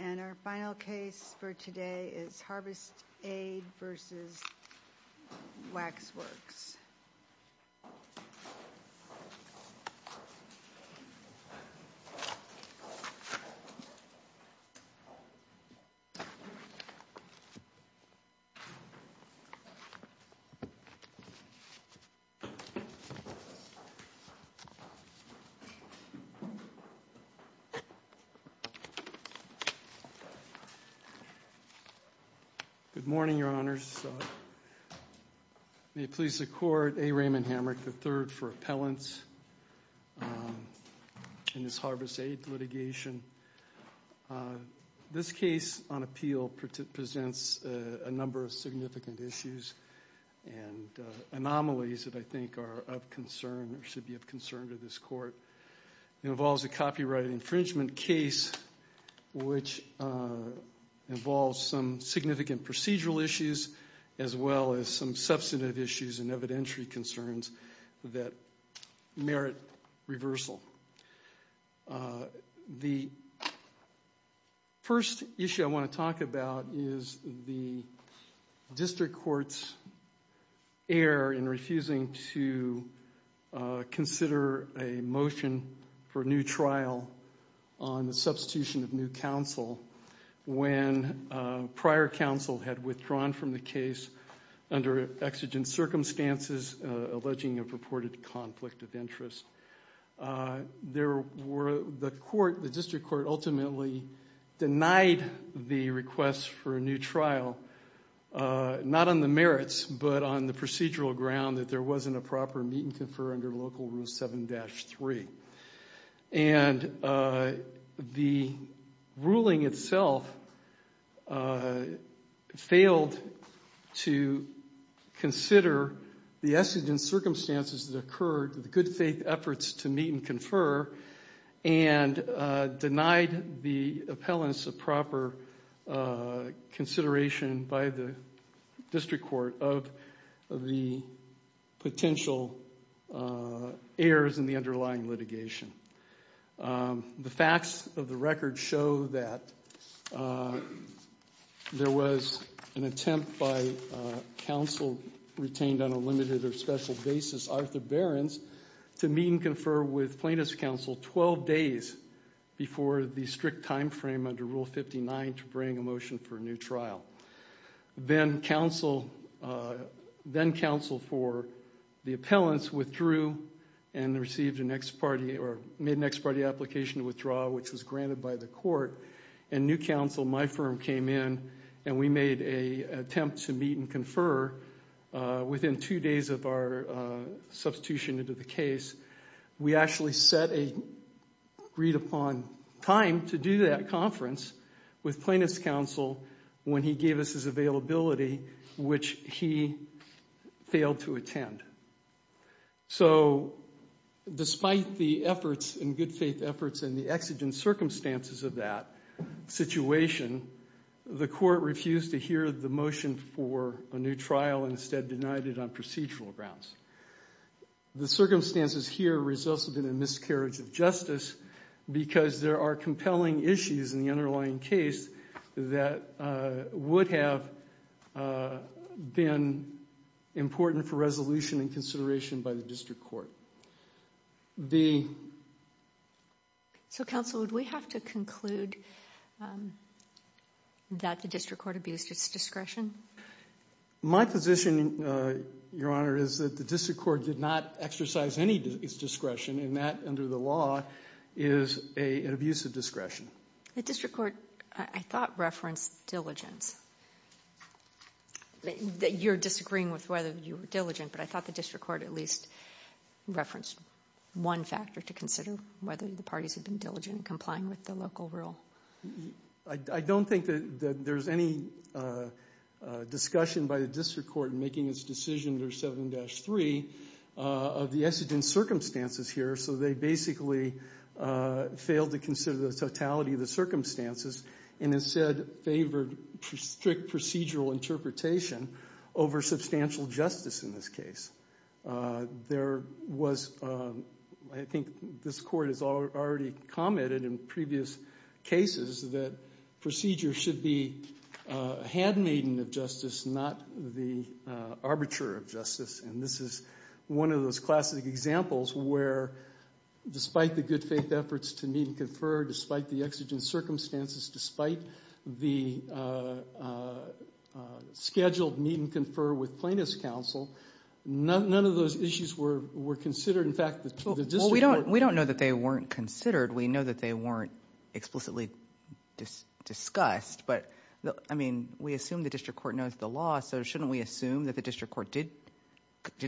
And our final case for today is Harvest Aid v. Waxworks. Good morning, Your Honors. May it please the Court, A. Raymond Hamrick III for Appellants in this Harvest Aid litigation. This case on appeal presents a number of significant issues and anomalies that I think are of concern or should be of concern to this Court. It involves a copyright infringement case which involves some significant procedural issues as well as some substantive issues and evidentiary concerns that merit reversal. The first issue I want to talk about is the District Court's error in refusing to consider a motion for new trial on the substitution of new counsel when prior counsel had withdrawn from the case under exigent circumstances alleging a purported conflict of interest. The District Court ultimately denied the request for a new trial, not on the merits but on the procedural ground that there wasn't a proper meet and confer under Local Rule 7-3. The ruling itself failed to consider the exigent circumstances that occurred, the good faith efforts to meet and confer, and denied the appellants a proper consideration by the District Court of the potential errors in the underlying litigation. The facts of the record show that there was an attempt by counsel retained on a limited or special basis, Arthur Behrens, to meet and confer with plaintiff's counsel 12 days before the strict time frame under Rule 59 to bring a motion for a new trial. Then counsel for the appellants withdrew and made an ex parte application to withdraw which was granted by the court. New counsel, my firm, came in and we made an attempt to meet and confer within two days of our substitution into the case. We actually set a agreed upon time to do that conference with plaintiff's counsel when he gave us his availability which he failed to attend. So despite the efforts and good faith efforts and the exigent circumstances of that situation, the court refused to hear the motion for a new trial and instead denied it on procedural grounds. The circumstances here resulted in a miscarriage of justice because there are compelling issues in the underlying case that would have been important for resolution and consideration by the district court. So counsel, would we have to conclude that the district court abused its discretion? My position, Your Honor, is that the district court did not exercise any discretion and that under the law is an abuse of discretion. The district court, I thought, referenced diligence. You're disagreeing with whether you were diligent, but I thought the district court at least referenced one factor to consider, whether the parties had been diligent in complying with the local rule. I don't think that there's any discussion by the district court in making its decision under 7-3 of the exigent circumstances here. So they basically failed to consider the totality of the circumstances and instead favored strict procedural interpretation over substantial justice in this case. There was, I think this court has already commented in previous cases, that procedure should be had maiden of justice, not the arbiter of justice, and this is one of those classic examples where despite the good faith efforts to meet and confer, despite the exigent circumstances, despite the scheduled meet and confer with plaintiff's counsel, none of those issues were considered. In fact, the district court— Well, we don't know that they weren't considered. We know that they weren't explicitly discussed, but, I mean, we assume the district court knows the law, so shouldn't we assume that the district court did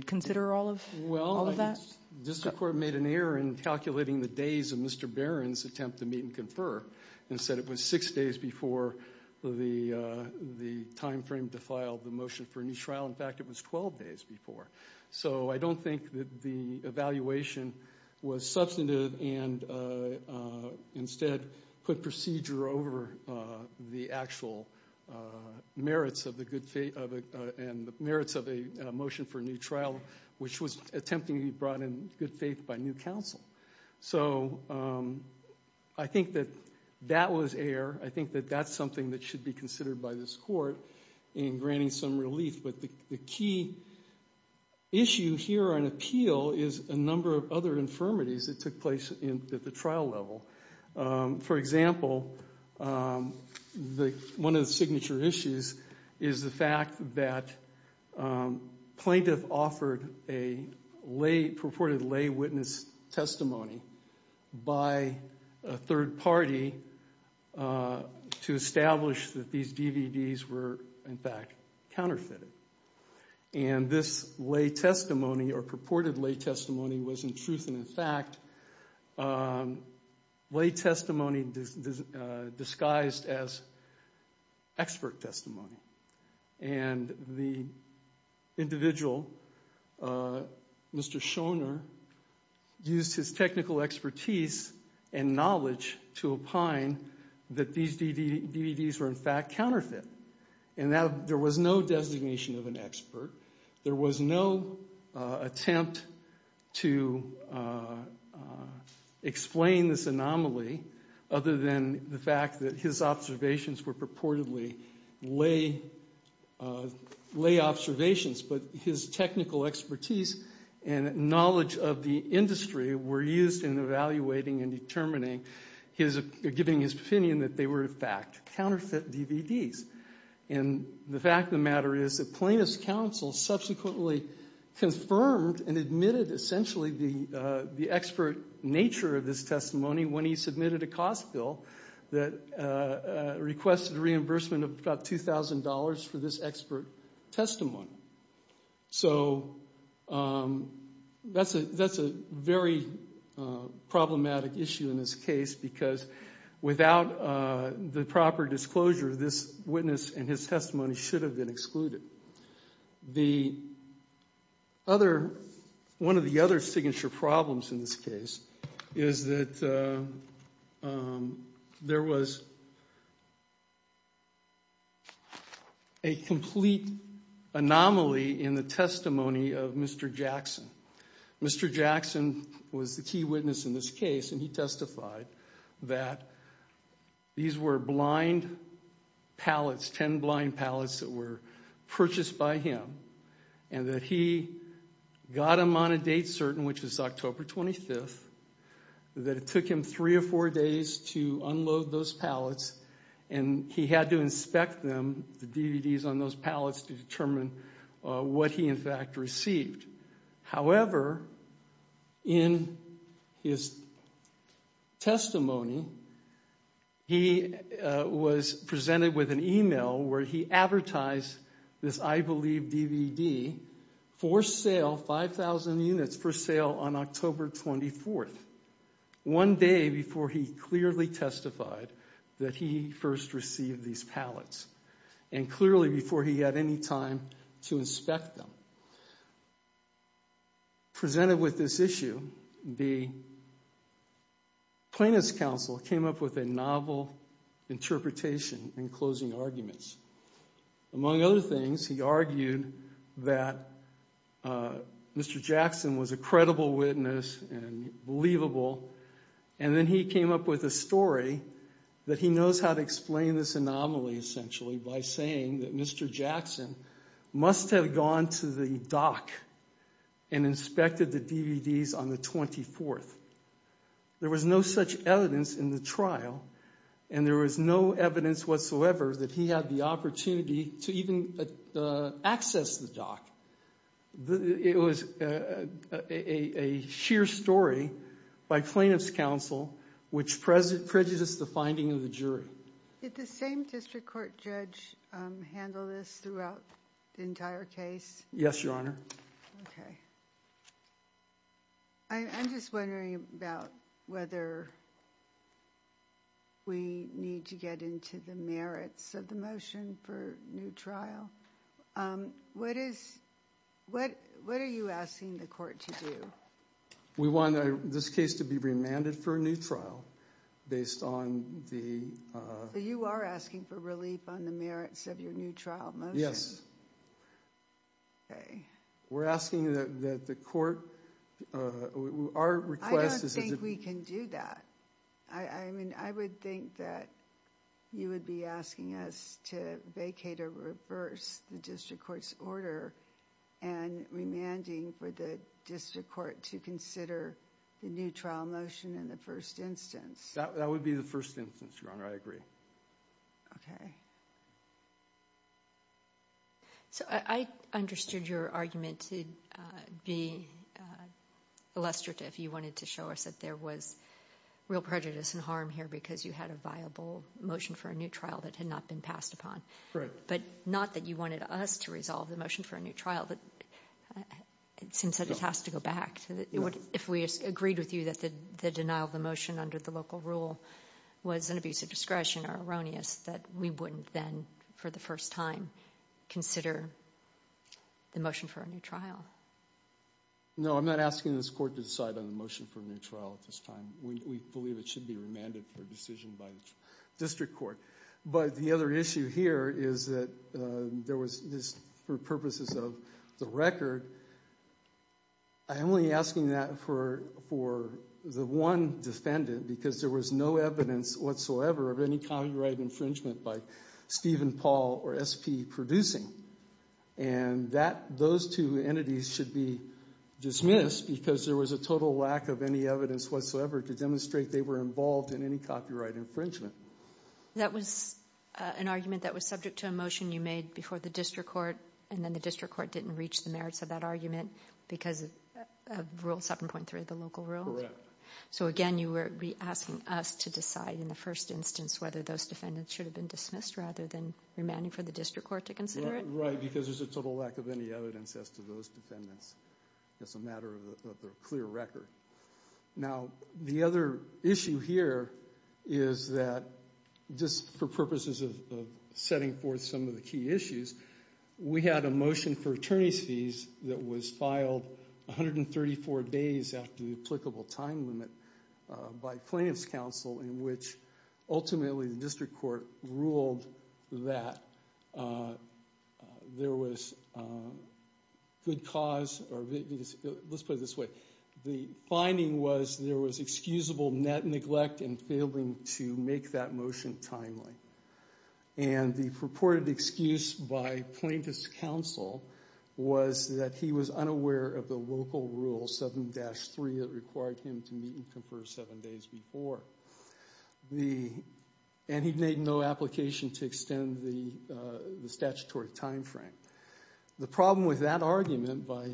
consider all of that? Well, I think the district court made an error in calculating the days of Mr. Barron's attempt to meet and confer and said it was six days before the timeframe to file the motion for a new trial. In fact, it was 12 days before. So I don't think that the evaluation was substantive and instead put procedure over the actual merits of a motion for a new trial, which was attempting to be brought in good faith by new counsel. So I think that that was error. I think that that's something that should be considered by this court in granting some relief, but the key issue here on appeal is a number of other infirmities that took place at the trial level. For example, one of the signature issues is the fact that plaintiff offered a purported lay witness testimony by a third party to establish that these DVDs were, in fact, counterfeited. And this lay testimony or purported lay testimony was, in truth and in fact, lay testimony disguised as expert testimony. And the individual, Mr. Shoner, used his technical expertise and knowledge to opine that these DVDs were, in fact, counterfeit. And there was no designation of an expert. There was no attempt to explain this anomaly other than the fact that his observations were purportedly lay observations. But his technical expertise and knowledge of the industry were used in evaluating and determining, giving his opinion that they were, in fact, counterfeit DVDs. And the fact of the matter is that plaintiff's counsel subsequently confirmed and admitted essentially the expert nature of this testimony when he submitted a cost bill that requested reimbursement of about $2,000 for this expert testimony. So that's a very problematic issue in this case because without the proper disclosure, this witness and his testimony should have been excluded. The other, one of the other signature problems in this case is that there was a complete anomaly in the testimony of Mr. Jackson. Mr. Jackson was the key witness in this case, and he testified that these were blind pallets, ten blind pallets that were purchased by him, and that he got them on a date certain, which was October 25th, that it took him three or four days to unload those pallets. And he had to inspect them, the DVDs on those pallets, to determine what he, in fact, received. However, in his testimony, he was presented with an email where he advertised this, I believe, DVD for sale, 5,000 units for sale on October 24th. One day before he clearly testified that he first received these pallets, and clearly before he had any time to inspect them. Presented with this issue, the plaintiff's counsel came up with a novel interpretation in closing arguments. Among other things, he argued that Mr. Jackson was a credible witness and believable, and then he came up with a story that he knows how to explain this anomaly, essentially, by saying that Mr. Jackson must have gone to the dock and inspected the DVDs on the 24th. There was no such evidence in the trial, and there was no evidence whatsoever that he had the opportunity to even access the dock. It was a sheer story by plaintiff's counsel, which prejudiced the finding of the jury. Did the same district court judge handle this throughout the entire case? Yes, Your Honor. Okay. I'm just wondering about whether we need to get into the merits of the motion for a new trial. What are you asking the court to do? We want this case to be remanded for a new trial based on the... So you are asking for relief on the merits of your new trial motion? Okay. We're asking that the court... I don't think we can do that. I mean, I would think that you would be asking us to vacate or reverse the district court's order and remanding for the district court to consider the new trial motion in the first instance. That would be the first instance, Your Honor. I agree. Okay. So I understood your argument to be illustrative. You wanted to show us that there was real prejudice and harm here because you had a viable motion for a new trial that had not been passed upon. Right. But not that you wanted us to resolve the motion for a new trial. It seems that it has to go back. If we agreed with you that the denial of the motion under the local rule was an abuse of discretion or erroneous, that we wouldn't then, for the first time, consider the motion for a new trial. No, I'm not asking this court to decide on the motion for a new trial at this time. We believe it should be remanded for a decision by the district court. But the other issue here is that there was, for purposes of the record, I'm only asking that for the one defendant because there was no evidence whatsoever of any copyright infringement by Stephen, Paul, or SP producing. And those two entities should be dismissed because there was a total lack of any evidence whatsoever to demonstrate they were involved in any copyright infringement. That was an argument that was subject to a motion you made before the district court, and then the district court didn't reach the merits of that argument because of Rule 7.3 of the local rule? Correct. So, again, you were asking us to decide in the first instance whether those defendants should have been dismissed rather than remanding for the district court to consider it? Right, because there's a total lack of any evidence as to those defendants. It's a matter of the clear record. Now, the other issue here is that, just for purposes of setting forth some of the key issues, we had a motion for attorney's fees that was filed 134 days after the applicable time limit by plaintiff's counsel, in which ultimately the district court ruled that there was good cause, or let's put it this way, the finding was there was excusable net neglect in failing to make that motion timely. And the purported excuse by plaintiff's counsel was that he was unaware of the local rule 7-3 that required him to meet and confer seven days before, and he made no application to extend the statutory time frame. The problem with that argument by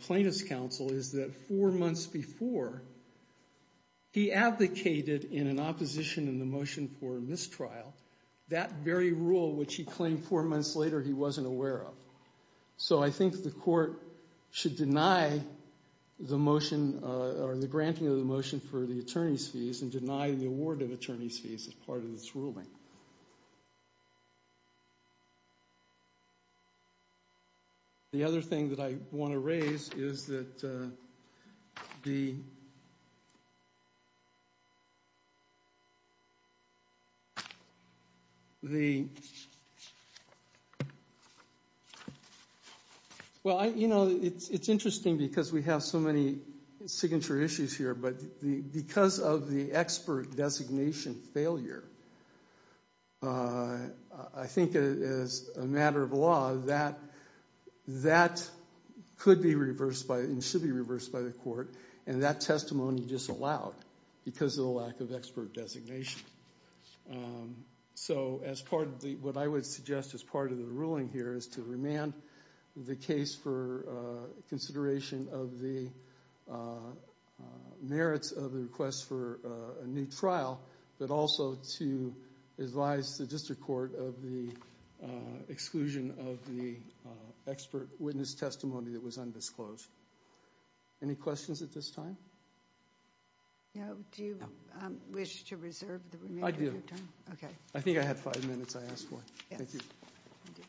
plaintiff's counsel is that four months before, he advocated in an opposition in the motion for mistrial that very rule which he claimed four months later he wasn't aware of. So I think the court should deny the motion, or the granting of the motion for the attorney's fees, and deny the award of attorney's fees as part of this ruling. The other thing that I want to raise is that the, well, you know, it's interesting because we have so many signature issues here, but because of the expert designation failure, I think as a matter of law, that could be reversed and should be reversed by the court, and that testimony disallowed because of the lack of expert designation. So as part of the, what I would suggest as part of the ruling here is to remand the case for consideration of the merits of the request for a new trial, but also to advise the district court of the exclusion of the expert witness testimony that was undisclosed. Any questions at this time? No, do you wish to reserve the remainder of your time? Okay. I think I had five minutes I asked for. Yes. Thank you. Thank you.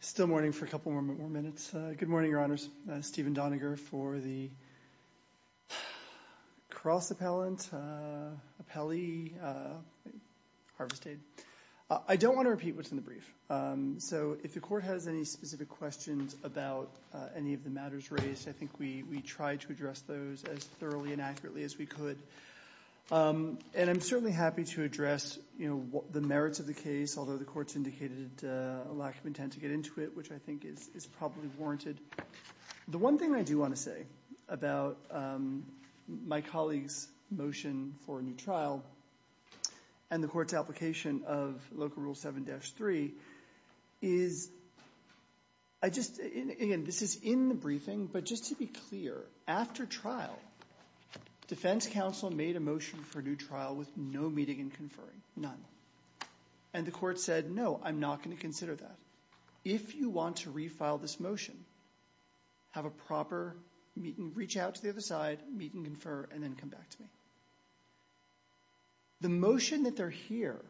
Still mourning for a couple more minutes. Good morning, Your Honors. Steven Doniger for the Cross Appellant, Appellee, Harvest Aid. I don't want to repeat what's in the brief. So if the court has any specific questions about any of the matters raised, I think we tried to address those as thoroughly and accurately as we could. And I'm certainly happy to address, you know, the merits of the case, although the courts indicated a lack of intent to get into it, which I think is probably warranted. The one thing I do want to say about my colleague's motion for a new trial and the court's application of Local Rule 7-3 is I just – again, this is in the briefing. But just to be clear, after trial, defense counsel made a motion for a new trial with no meeting and conferring, none. And the court said, no, I'm not going to consider that. If you want to refile this motion, have a proper meeting, reach out to the other side, meet and confer, and then come back to me. The motion that they're here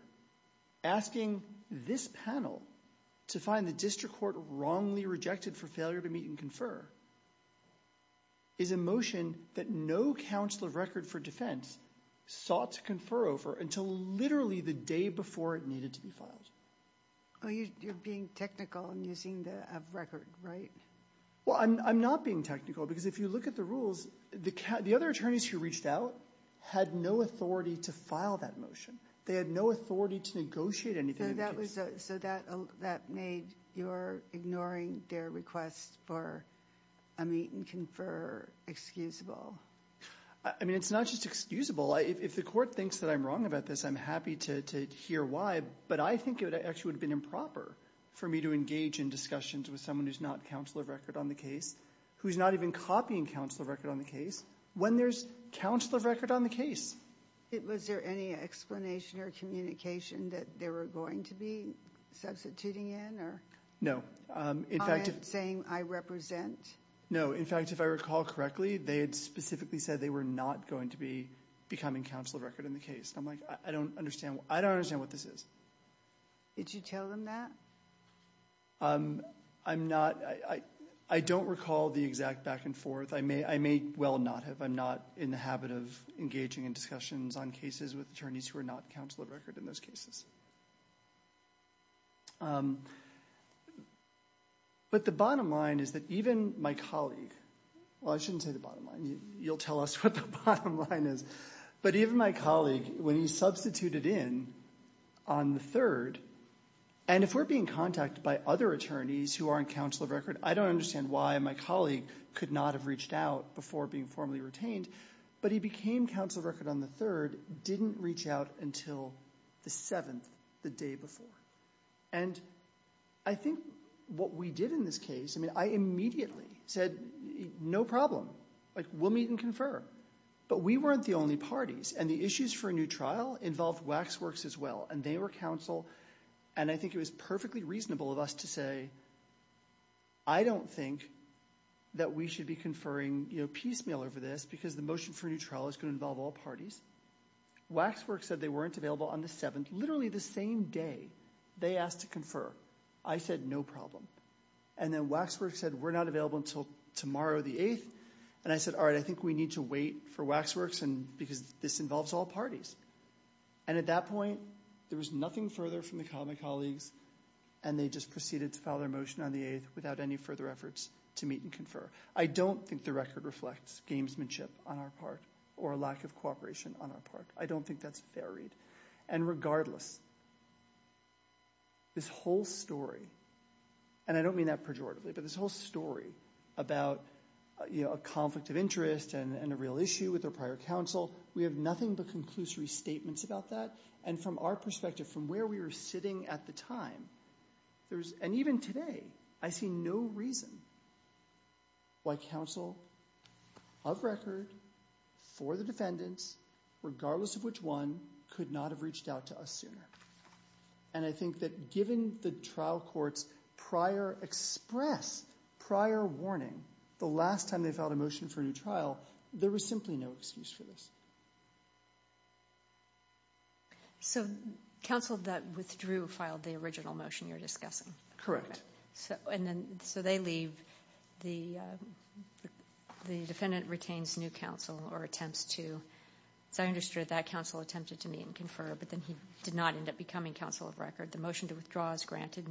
asking this panel to find the district court wrongly rejected for failure to meet and confer is a motion that no counsel of record for defense sought to confer over until literally the day before it needed to be filed. Well, you're being technical and using the of record, right? Well, I'm not being technical because if you look at the rules, the other attorneys who reached out had no authority to file that motion. They had no authority to negotiate anything in the case. So that made your ignoring their request for a meet and confer excusable? I mean, it's not just excusable. If the court thinks that I'm wrong about this, I'm happy to hear why. But I think it actually would have been improper for me to engage in discussions with someone who's not counsel of record on the case, who's not even copying counsel of record on the case, when there's counsel of record on the case. Was there any explanation or communication that they were going to be substituting in or saying I represent? No. In fact, if I recall correctly, they had specifically said they were not going to be becoming counsel of record in the case. I'm like, I don't understand. I don't understand what this is. Did you tell them that? I'm not I don't recall the exact back and forth. I may I may well not have. I'm not in the habit of engaging in discussions on cases with attorneys who are not counsel of record in those cases. But the bottom line is that even my colleague, well, I shouldn't say the bottom line. You'll tell us what the bottom line is. But even my colleague, when he substituted in on the third, and if we're being contacted by other attorneys who aren't counsel of record, I don't understand why my colleague could not have reached out before being formally retained. But he became counsel of record on the third, didn't reach out until the seventh, the day before. And I think what we did in this case, I mean, I immediately said, no problem. We'll meet and confer. But we weren't the only parties. And the issues for a new trial involved Waxworks as well. And I think it was perfectly reasonable of us to say, I don't think that we should be conferring piecemeal over this because the motion for a new trial is going to involve all parties. Waxworks said they weren't available on the seventh, literally the same day they asked to confer. I said, no problem. And then Waxworks said we're not available until tomorrow, the eighth. And I said, all right, I think we need to wait for Waxworks and because this involves all parties. And at that point, there was nothing further from my colleagues, and they just proceeded to file their motion on the eighth without any further efforts to meet and confer. I don't think the record reflects gamesmanship on our part or a lack of cooperation on our part. I don't think that's varied. And regardless, this whole story, and I don't mean that pejoratively, but this whole story about a conflict of interest and a real issue with a prior counsel, we have nothing but conclusory statements about that. And from our perspective, from where we were sitting at the time, and even today, I see no reason why counsel of record for the defendants, regardless of which one, could not have reached out to us sooner. And I think that given the trial court's prior express, prior warning, the last time they filed a motion for a new trial, there was simply no excuse for this. So counsel that withdrew filed the original motion you're discussing? So they leave. The defendant retains new counsel or attempts to. So I understood that counsel attempted to meet and confer, but then he did not end up becoming counsel of record. The motion to withdraw is granted.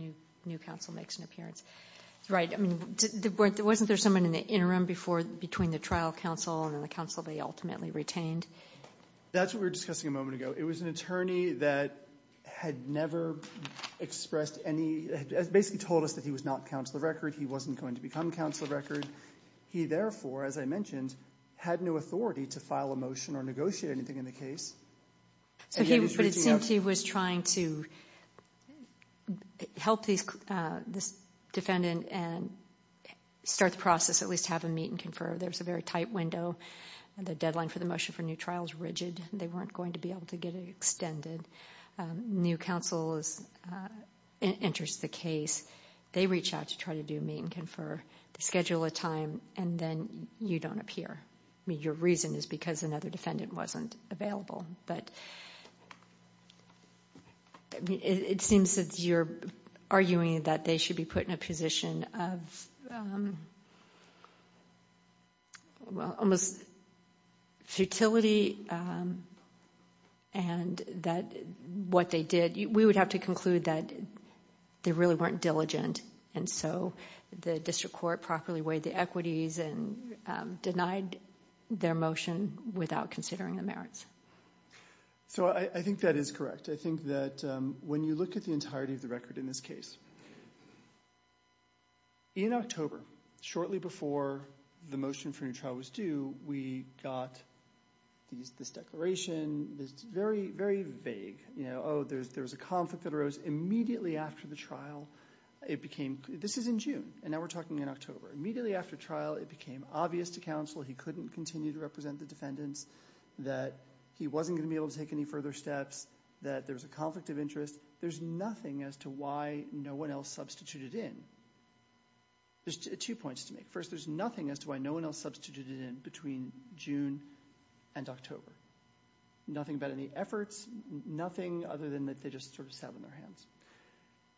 New counsel makes an appearance. Right. Wasn't there someone in the interim before, between the trial counsel and the counsel they ultimately retained? That's what we were discussing a moment ago. It was an attorney that had never expressed any, basically told us that he was not counsel of record. He wasn't going to become counsel of record. He, therefore, as I mentioned, had no authority to file a motion or negotiate anything in the case. But it seemed he was trying to help this defendant and start the process, at least have him meet and confer. There's a very tight window. The deadline for the motion for new trial is rigid. They weren't going to be able to get it extended. New counsel enters the case. They reach out to try to do a meet and confer. They schedule a time, and then you don't appear. I mean, your reason is because another defendant wasn't available. But it seems that you're arguing that they should be put in a position of, well, almost futility. And that what they did, we would have to conclude that they really weren't diligent. And so the district court properly weighed the equities and denied their motion without considering the merits. So I think that is correct. I think that when you look at the entirety of the record in this case, in October, shortly before the motion for new trial was due, we got this declaration that's very, very vague. Oh, there was a conflict that arose immediately after the trial. This is in June, and now we're talking in October. Immediately after trial, it became obvious to counsel he couldn't continue to represent the defendants, that he wasn't going to be able to take any further steps, that there was a conflict of interest. There's nothing as to why no one else substituted in. There's two points to make. First, there's nothing as to why no one else substituted in between June and October. Nothing about any efforts, nothing other than that they just sort of sat on their hands.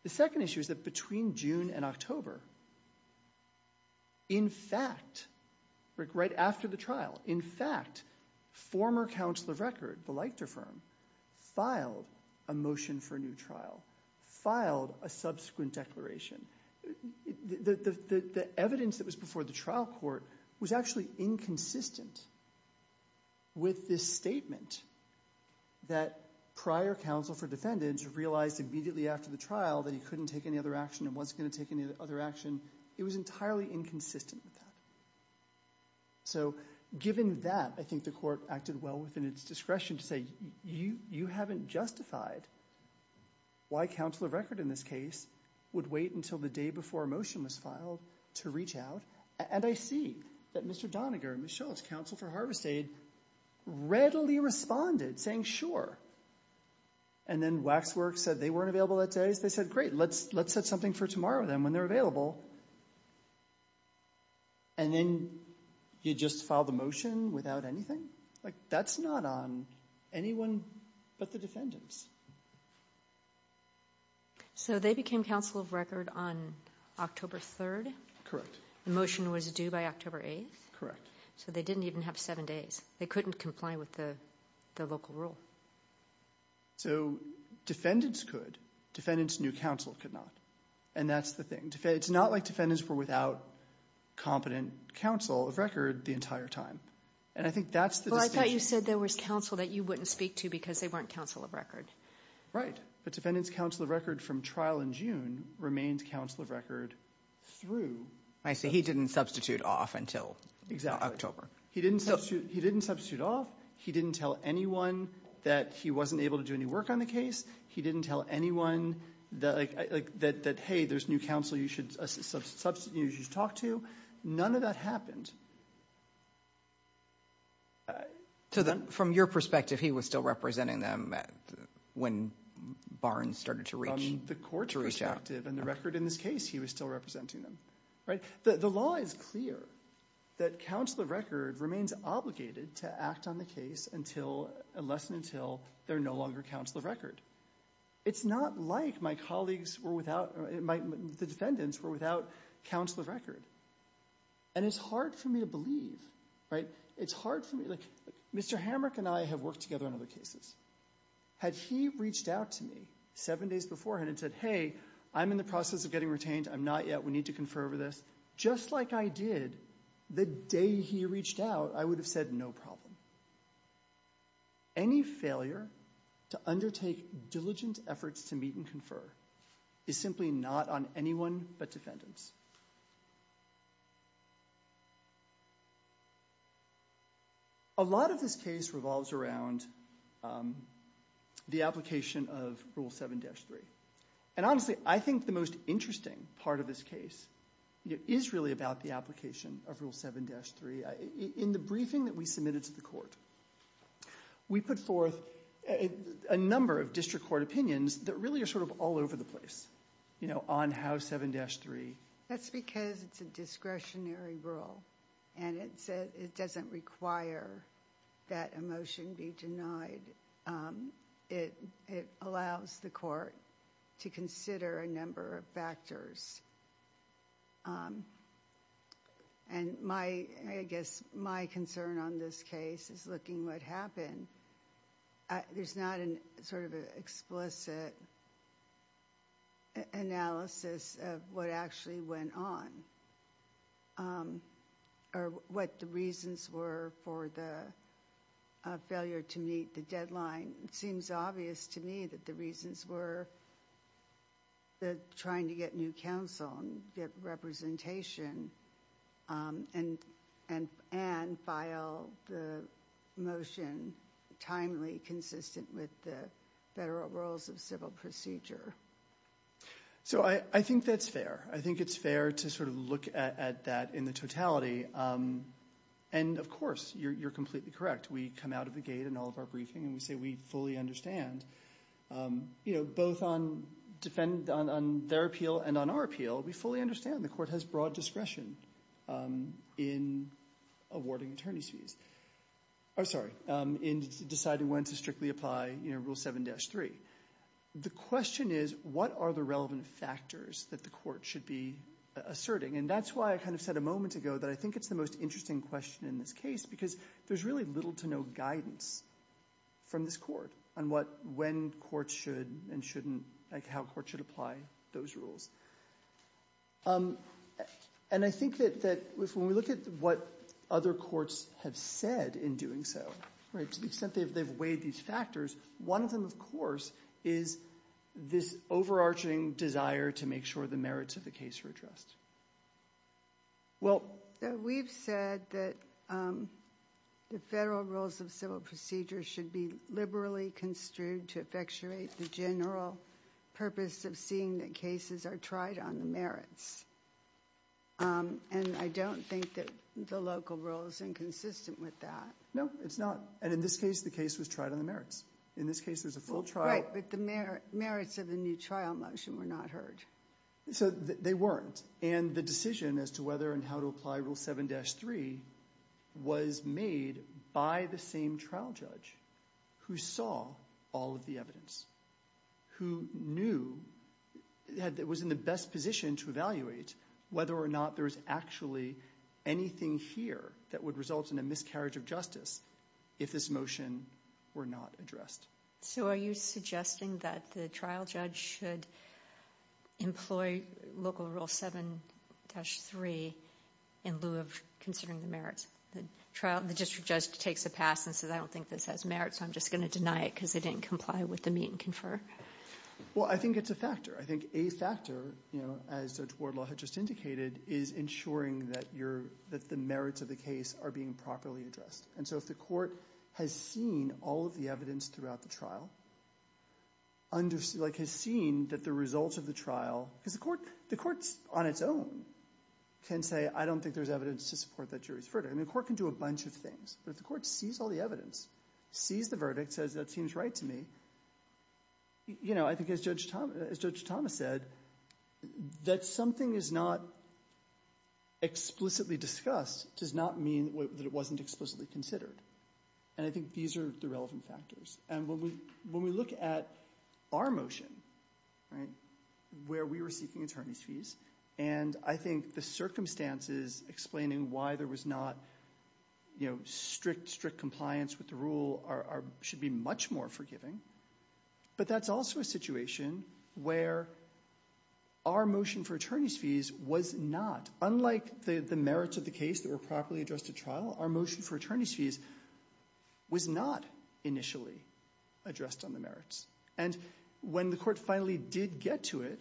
The second issue is that between June and October, in fact, right after the trial, in fact, former counsel of record, the Leichter firm, filed a motion for a new trial, filed a subsequent declaration. The evidence that was before the trial court was actually inconsistent with this statement that prior counsel for defendants realized immediately after the trial that he couldn't take any other action and wasn't going to take any other action. It was entirely inconsistent with that. So given that, I think the court acted well within its discretion to say, you haven't justified why counsel of record in this case would wait until the day before a motion was filed to reach out. And I see that Mr. Doniger and Ms. Schultz, counsel for harvest aid, readily responded, saying, sure. And then Waxworks said they weren't available that day. They said, great, let's set something for tomorrow then when they're available. And then you just file the motion without anything? Like, that's not on anyone but the defendants. So they became counsel of record on October 3rd? Correct. The motion was due by October 8th? So they didn't even have seven days. They couldn't comply with the local rule. So defendants could. Defendants knew counsel could not. And that's the thing. It's not like defendants were without competent counsel of record the entire time. And I think that's the distinction. Well, I thought you said there was counsel that you wouldn't speak to because they weren't counsel of record. Right. But defendants' counsel of record from trial in June remained counsel of record through. I see. He didn't substitute off until October. Exactly. He didn't substitute off. He didn't tell anyone that he wasn't able to do any work on the case. He didn't tell anyone that, hey, there's new counsel you should talk to. None of that happened. So from your perspective, he was still representing them when Barnes started to reach out? From the court's perspective and the record in this case, he was still representing them. Right? The law is clear that counsel of record remains obligated to act on the case unless and until they're no longer counsel of record. It's not like my colleagues were without or the defendants were without counsel of record. And it's hard for me to believe. It's hard for me. Mr. Hamrick and I have worked together on other cases. Had he reached out to me seven days beforehand and said, hey, I'm in the process of getting retained. I'm not yet. We need to confer over this, just like I did the day he reached out, I would have said no problem. Any failure to undertake diligent efforts to meet and confer is simply not on anyone but defendants. A lot of this case revolves around the application of Rule 7-3. And honestly, I think the most interesting part of this case is really about the application of Rule 7-3. In the briefing that we submitted to the court, we put forth a number of district court opinions that really are sort of all over the place. You know, on how 7-3. That's because it's a discretionary rule. And it doesn't require that a motion be denied. It allows the court to consider a number of factors. And I guess my concern on this case is looking at what happened. There's not an explicit analysis of what actually went on. Or what the reasons were for the failure to meet the deadline. It seems obvious to me that the reasons were trying to get new counsel and get representation. And file the motion timely, consistent with the federal rules of civil procedure. So I think that's fair. I think it's fair to sort of look at that in the totality. And of course, you're completely correct. We come out of the gate in all of our briefing and we say we fully understand. You know, both on their appeal and on our appeal, we fully understand the court has broad discretion in awarding attorney's fees. I'm sorry, in deciding when to strictly apply Rule 7-3. The question is, what are the relevant factors that the court should be asserting? And that's why I kind of said a moment ago that I think it's the most interesting question in this case. Because there's really little to no guidance from this court on when courts should and shouldn't, how courts should apply those rules. And I think that when we look at what other courts have said in doing so, to the extent they've weighed these factors, one of them, of course, is this overarching desire to make sure the merits of the case are addressed. Well, we've said that the federal rules of civil procedure should be liberally construed to effectuate the general purpose of seeing that cases are tried on the merits. And I don't think that the local rule is inconsistent with that. No, it's not. And in this case, the case was tried on the merits. In this case, there's a full trial. Right, but the merits of the new trial motion were not heard. So they weren't. And the decision as to whether and how to apply Rule 7-3 was made by the same trial judge who saw all of the evidence, who knew, was in the best position to evaluate whether or not there was actually anything here that would result in a miscarriage of justice if this motion were not addressed. So are you suggesting that the trial judge should employ Local Rule 7-3 in lieu of considering the merits? The district judge takes a pass and says, I don't think this has merits, so I'm just going to deny it because they didn't comply with the meet and confer. Well, I think it's a factor. I think a factor, as Judge Wardlaw had just indicated, is ensuring that the merits of the case are being properly addressed. And so if the court has seen all of the evidence throughout the trial, like has seen that the results of the trial – because the court on its own can say, I don't think there's evidence to support that jury's verdict. I mean the court can do a bunch of things. But if the court sees all the evidence, sees the verdict, says that seems right to me, I think as Judge Thomas said, that something is not explicitly discussed does not mean that it wasn't explicitly considered. And I think these are the relevant factors. And when we look at our motion, where we were seeking attorney's fees, and I think the circumstances explaining why there was not strict, strict compliance with the rule should be much more forgiving. But that's also a situation where our motion for attorney's fees was not – unlike the merits of the case that were properly addressed at trial, our motion for attorney's fees was not initially addressed on the merits. And when the court finally did get to it,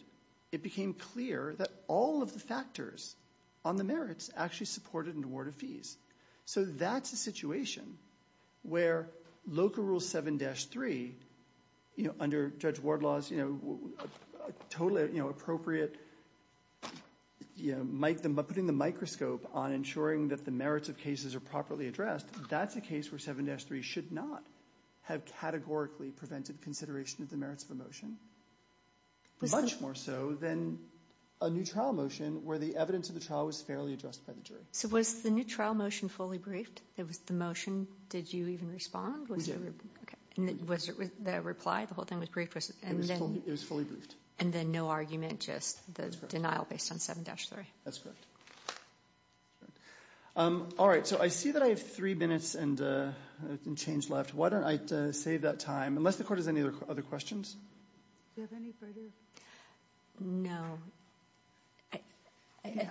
it became clear that all of the factors on the merits actually supported an award of fees. So that's a situation where local rule 7-3, under Judge Wardlaw's totally appropriate – putting the microscope on ensuring that the merits of cases are properly addressed, that's a case where 7-3 should not have categorically prevented consideration of the merits of a motion, much more so than a new trial motion where the evidence of the trial was fairly addressed by the jury. So was the new trial motion fully briefed? Was the motion – did you even respond? We did. Was the reply, the whole thing was briefed? It was fully briefed. And then no argument, just the denial based on 7-3? That's correct. All right, so I see that I have three minutes and change left. Why don't I save that time, unless the court has any other questions? Do you have any further? No. I do.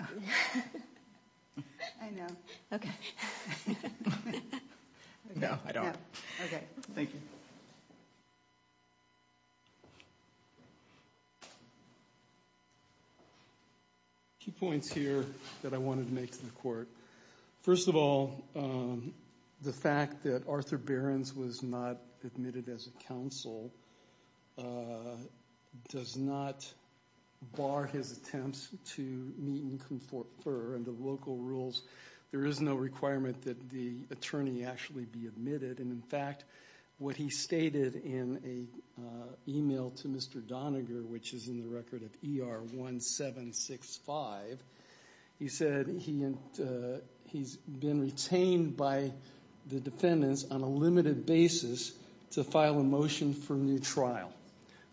I know. Okay. No, I don't. Okay. Thank you. Two points here that I wanted to make to the court. First of all, the fact that Arthur Behrens was not admitted as a counsel does not bar his attempts to meet and confer under local rules. There is no requirement that the attorney actually be admitted, and in fact, what he stated in an email to Mr. Doniger, which is in the record of ER 1765, he said he's been retained by the defendants on a limited basis to file a motion for new trial.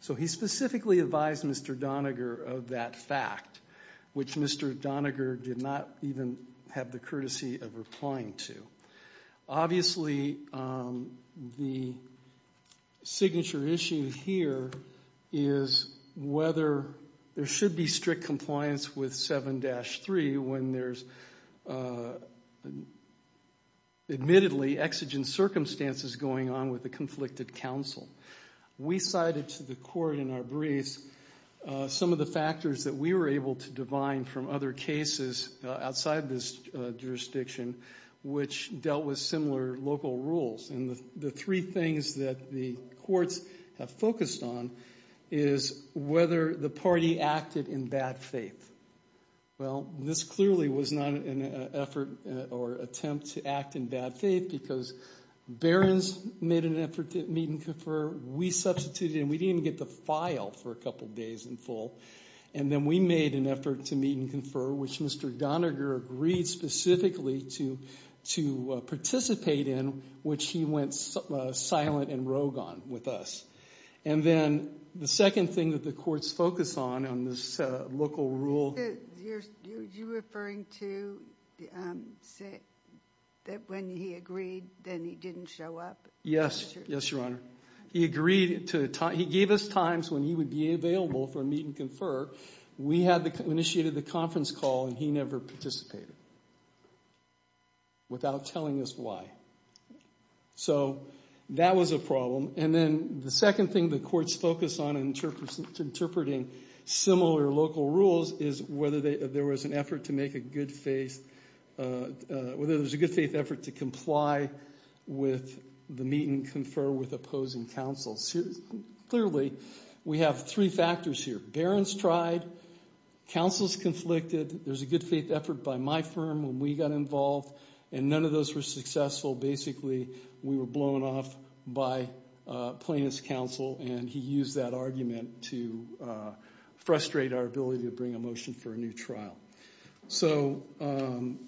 So he specifically advised Mr. Doniger of that fact, which Mr. Doniger did not even have the courtesy of replying to. Obviously, the signature issue here is whether there should be strict compliance with 7-3 when there's admittedly exigent circumstances going on with a conflicted counsel. We cited to the court in our briefs some of the factors that we were able to divine from other cases outside this jurisdiction, which dealt with similar local rules. And the three things that the courts have focused on is whether the party acted in bad faith. Well, this clearly was not an effort or attempt to act in bad faith because Behrens made an effort to meet and confer. We substituted, and we didn't even get the file for a couple days in full. And then we made an effort to meet and confer, which Mr. Doniger agreed specifically to participate in, which he went silent and rogue on with us. And then the second thing that the courts focused on, on this local rule. You're referring to that when he agreed, then he didn't show up? Yes. Yes, Your Honor. He agreed to, he gave us times when he would be available for a meet and confer. We had initiated the conference call, and he never participated without telling us why. So that was a problem. And then the second thing the courts focused on in interpreting similar local rules is whether there was an effort to make a good faith, whether there was a good faith effort to comply with the meet and confer with opposing counsel. Clearly, we have three factors here. Behrens tried. Counsel's conflicted. There was a good faith effort by my firm when we got involved, and none of those were successful. Basically, we were blown off by plaintiff's counsel, and he used that argument to frustrate our ability to bring a motion for a new trial. So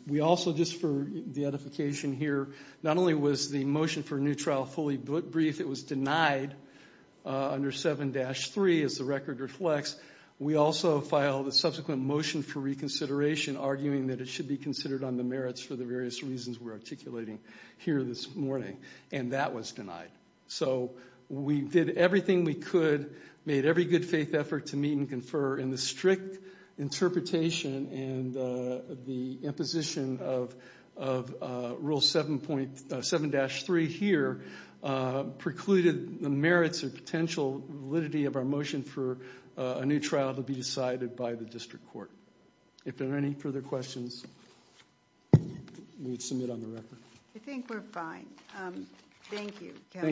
we also, just for the edification here, not only was the motion for a new trial fully briefed, it was denied under 7-3 as the record reflects. We also filed a subsequent motion for reconsideration, arguing that it should be considered on the merits for the various reasons we're articulating here this morning, and that was denied. So we did everything we could, made every good faith effort to meet and confer, and the strict interpretation and the imposition of Rule 7-3 here precluded the merits or potential validity of our motion for a new trial to be decided by the district court. If there are any further questions, we would submit on the record. I think we're fine. Thank you, Counsel.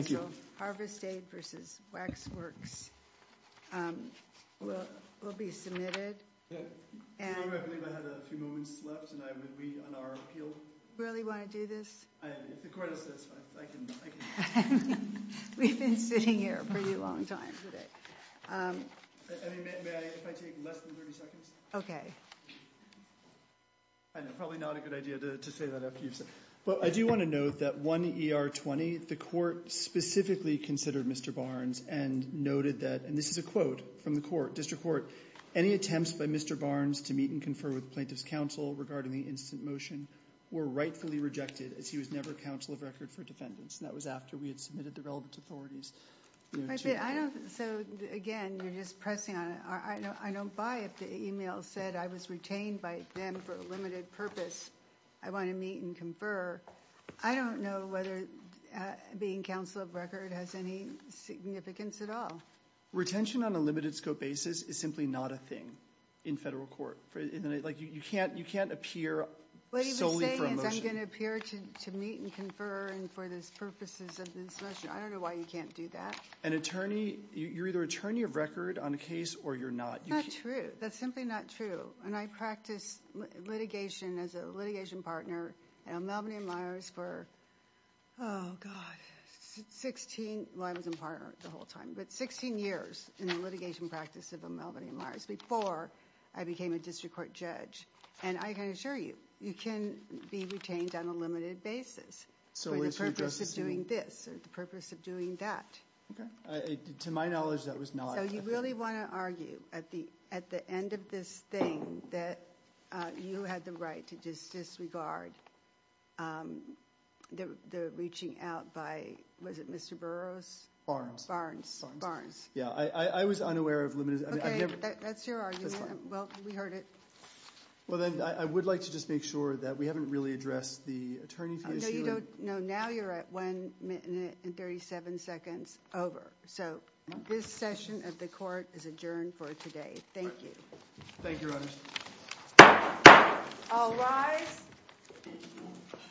I do want to note that 1 ER20, the court specifically considered Mr. Barnes and noted that, and this is a quote from the court, district court, any attempts by Mr. Barnes to meet and confer with plaintiff's counsel regarding the instant motion were rightfully rejected, as he was never counsel of record for defendants. And that was after we had submitted the relevant authorities. So, again, you're just pressing on it. I don't buy it. The email said I was retained by them for a limited purpose. I want to meet and confer. I don't know whether being counsel of record has any significance at all. Retention on a limited scope basis is simply not a thing in federal court. You can't appear solely for a motion. What he was saying is I'm going to appear to meet and confer for the purposes of this motion. I don't know why you can't do that. An attorney, you're either attorney of record on a case or you're not. That's not true. That's simply not true. And I practiced litigation as a litigation partner at Albany and Myers for, oh, God, 16. Well, I was a partner the whole time. But 16 years in the litigation practice of Albany and Myers before I became a district court judge. And I can assure you, you can be retained on a limited basis for the purpose of doing this or the purpose of doing that. Okay. To my knowledge, that was not. So you really want to argue at the end of this thing that you had the right to disregard the reaching out by, was it Mr. Burroughs? Barnes. Yeah. I was unaware of limited. Okay. That's your argument. Well, we heard it. Well, then I would like to just make sure that we haven't really addressed the attorney fee issue. No, you don't. No, now you're at 1 minute and 37 seconds over. So this session of the court is adjourned for today. Thank you. Thank you, Your Honor. All rise.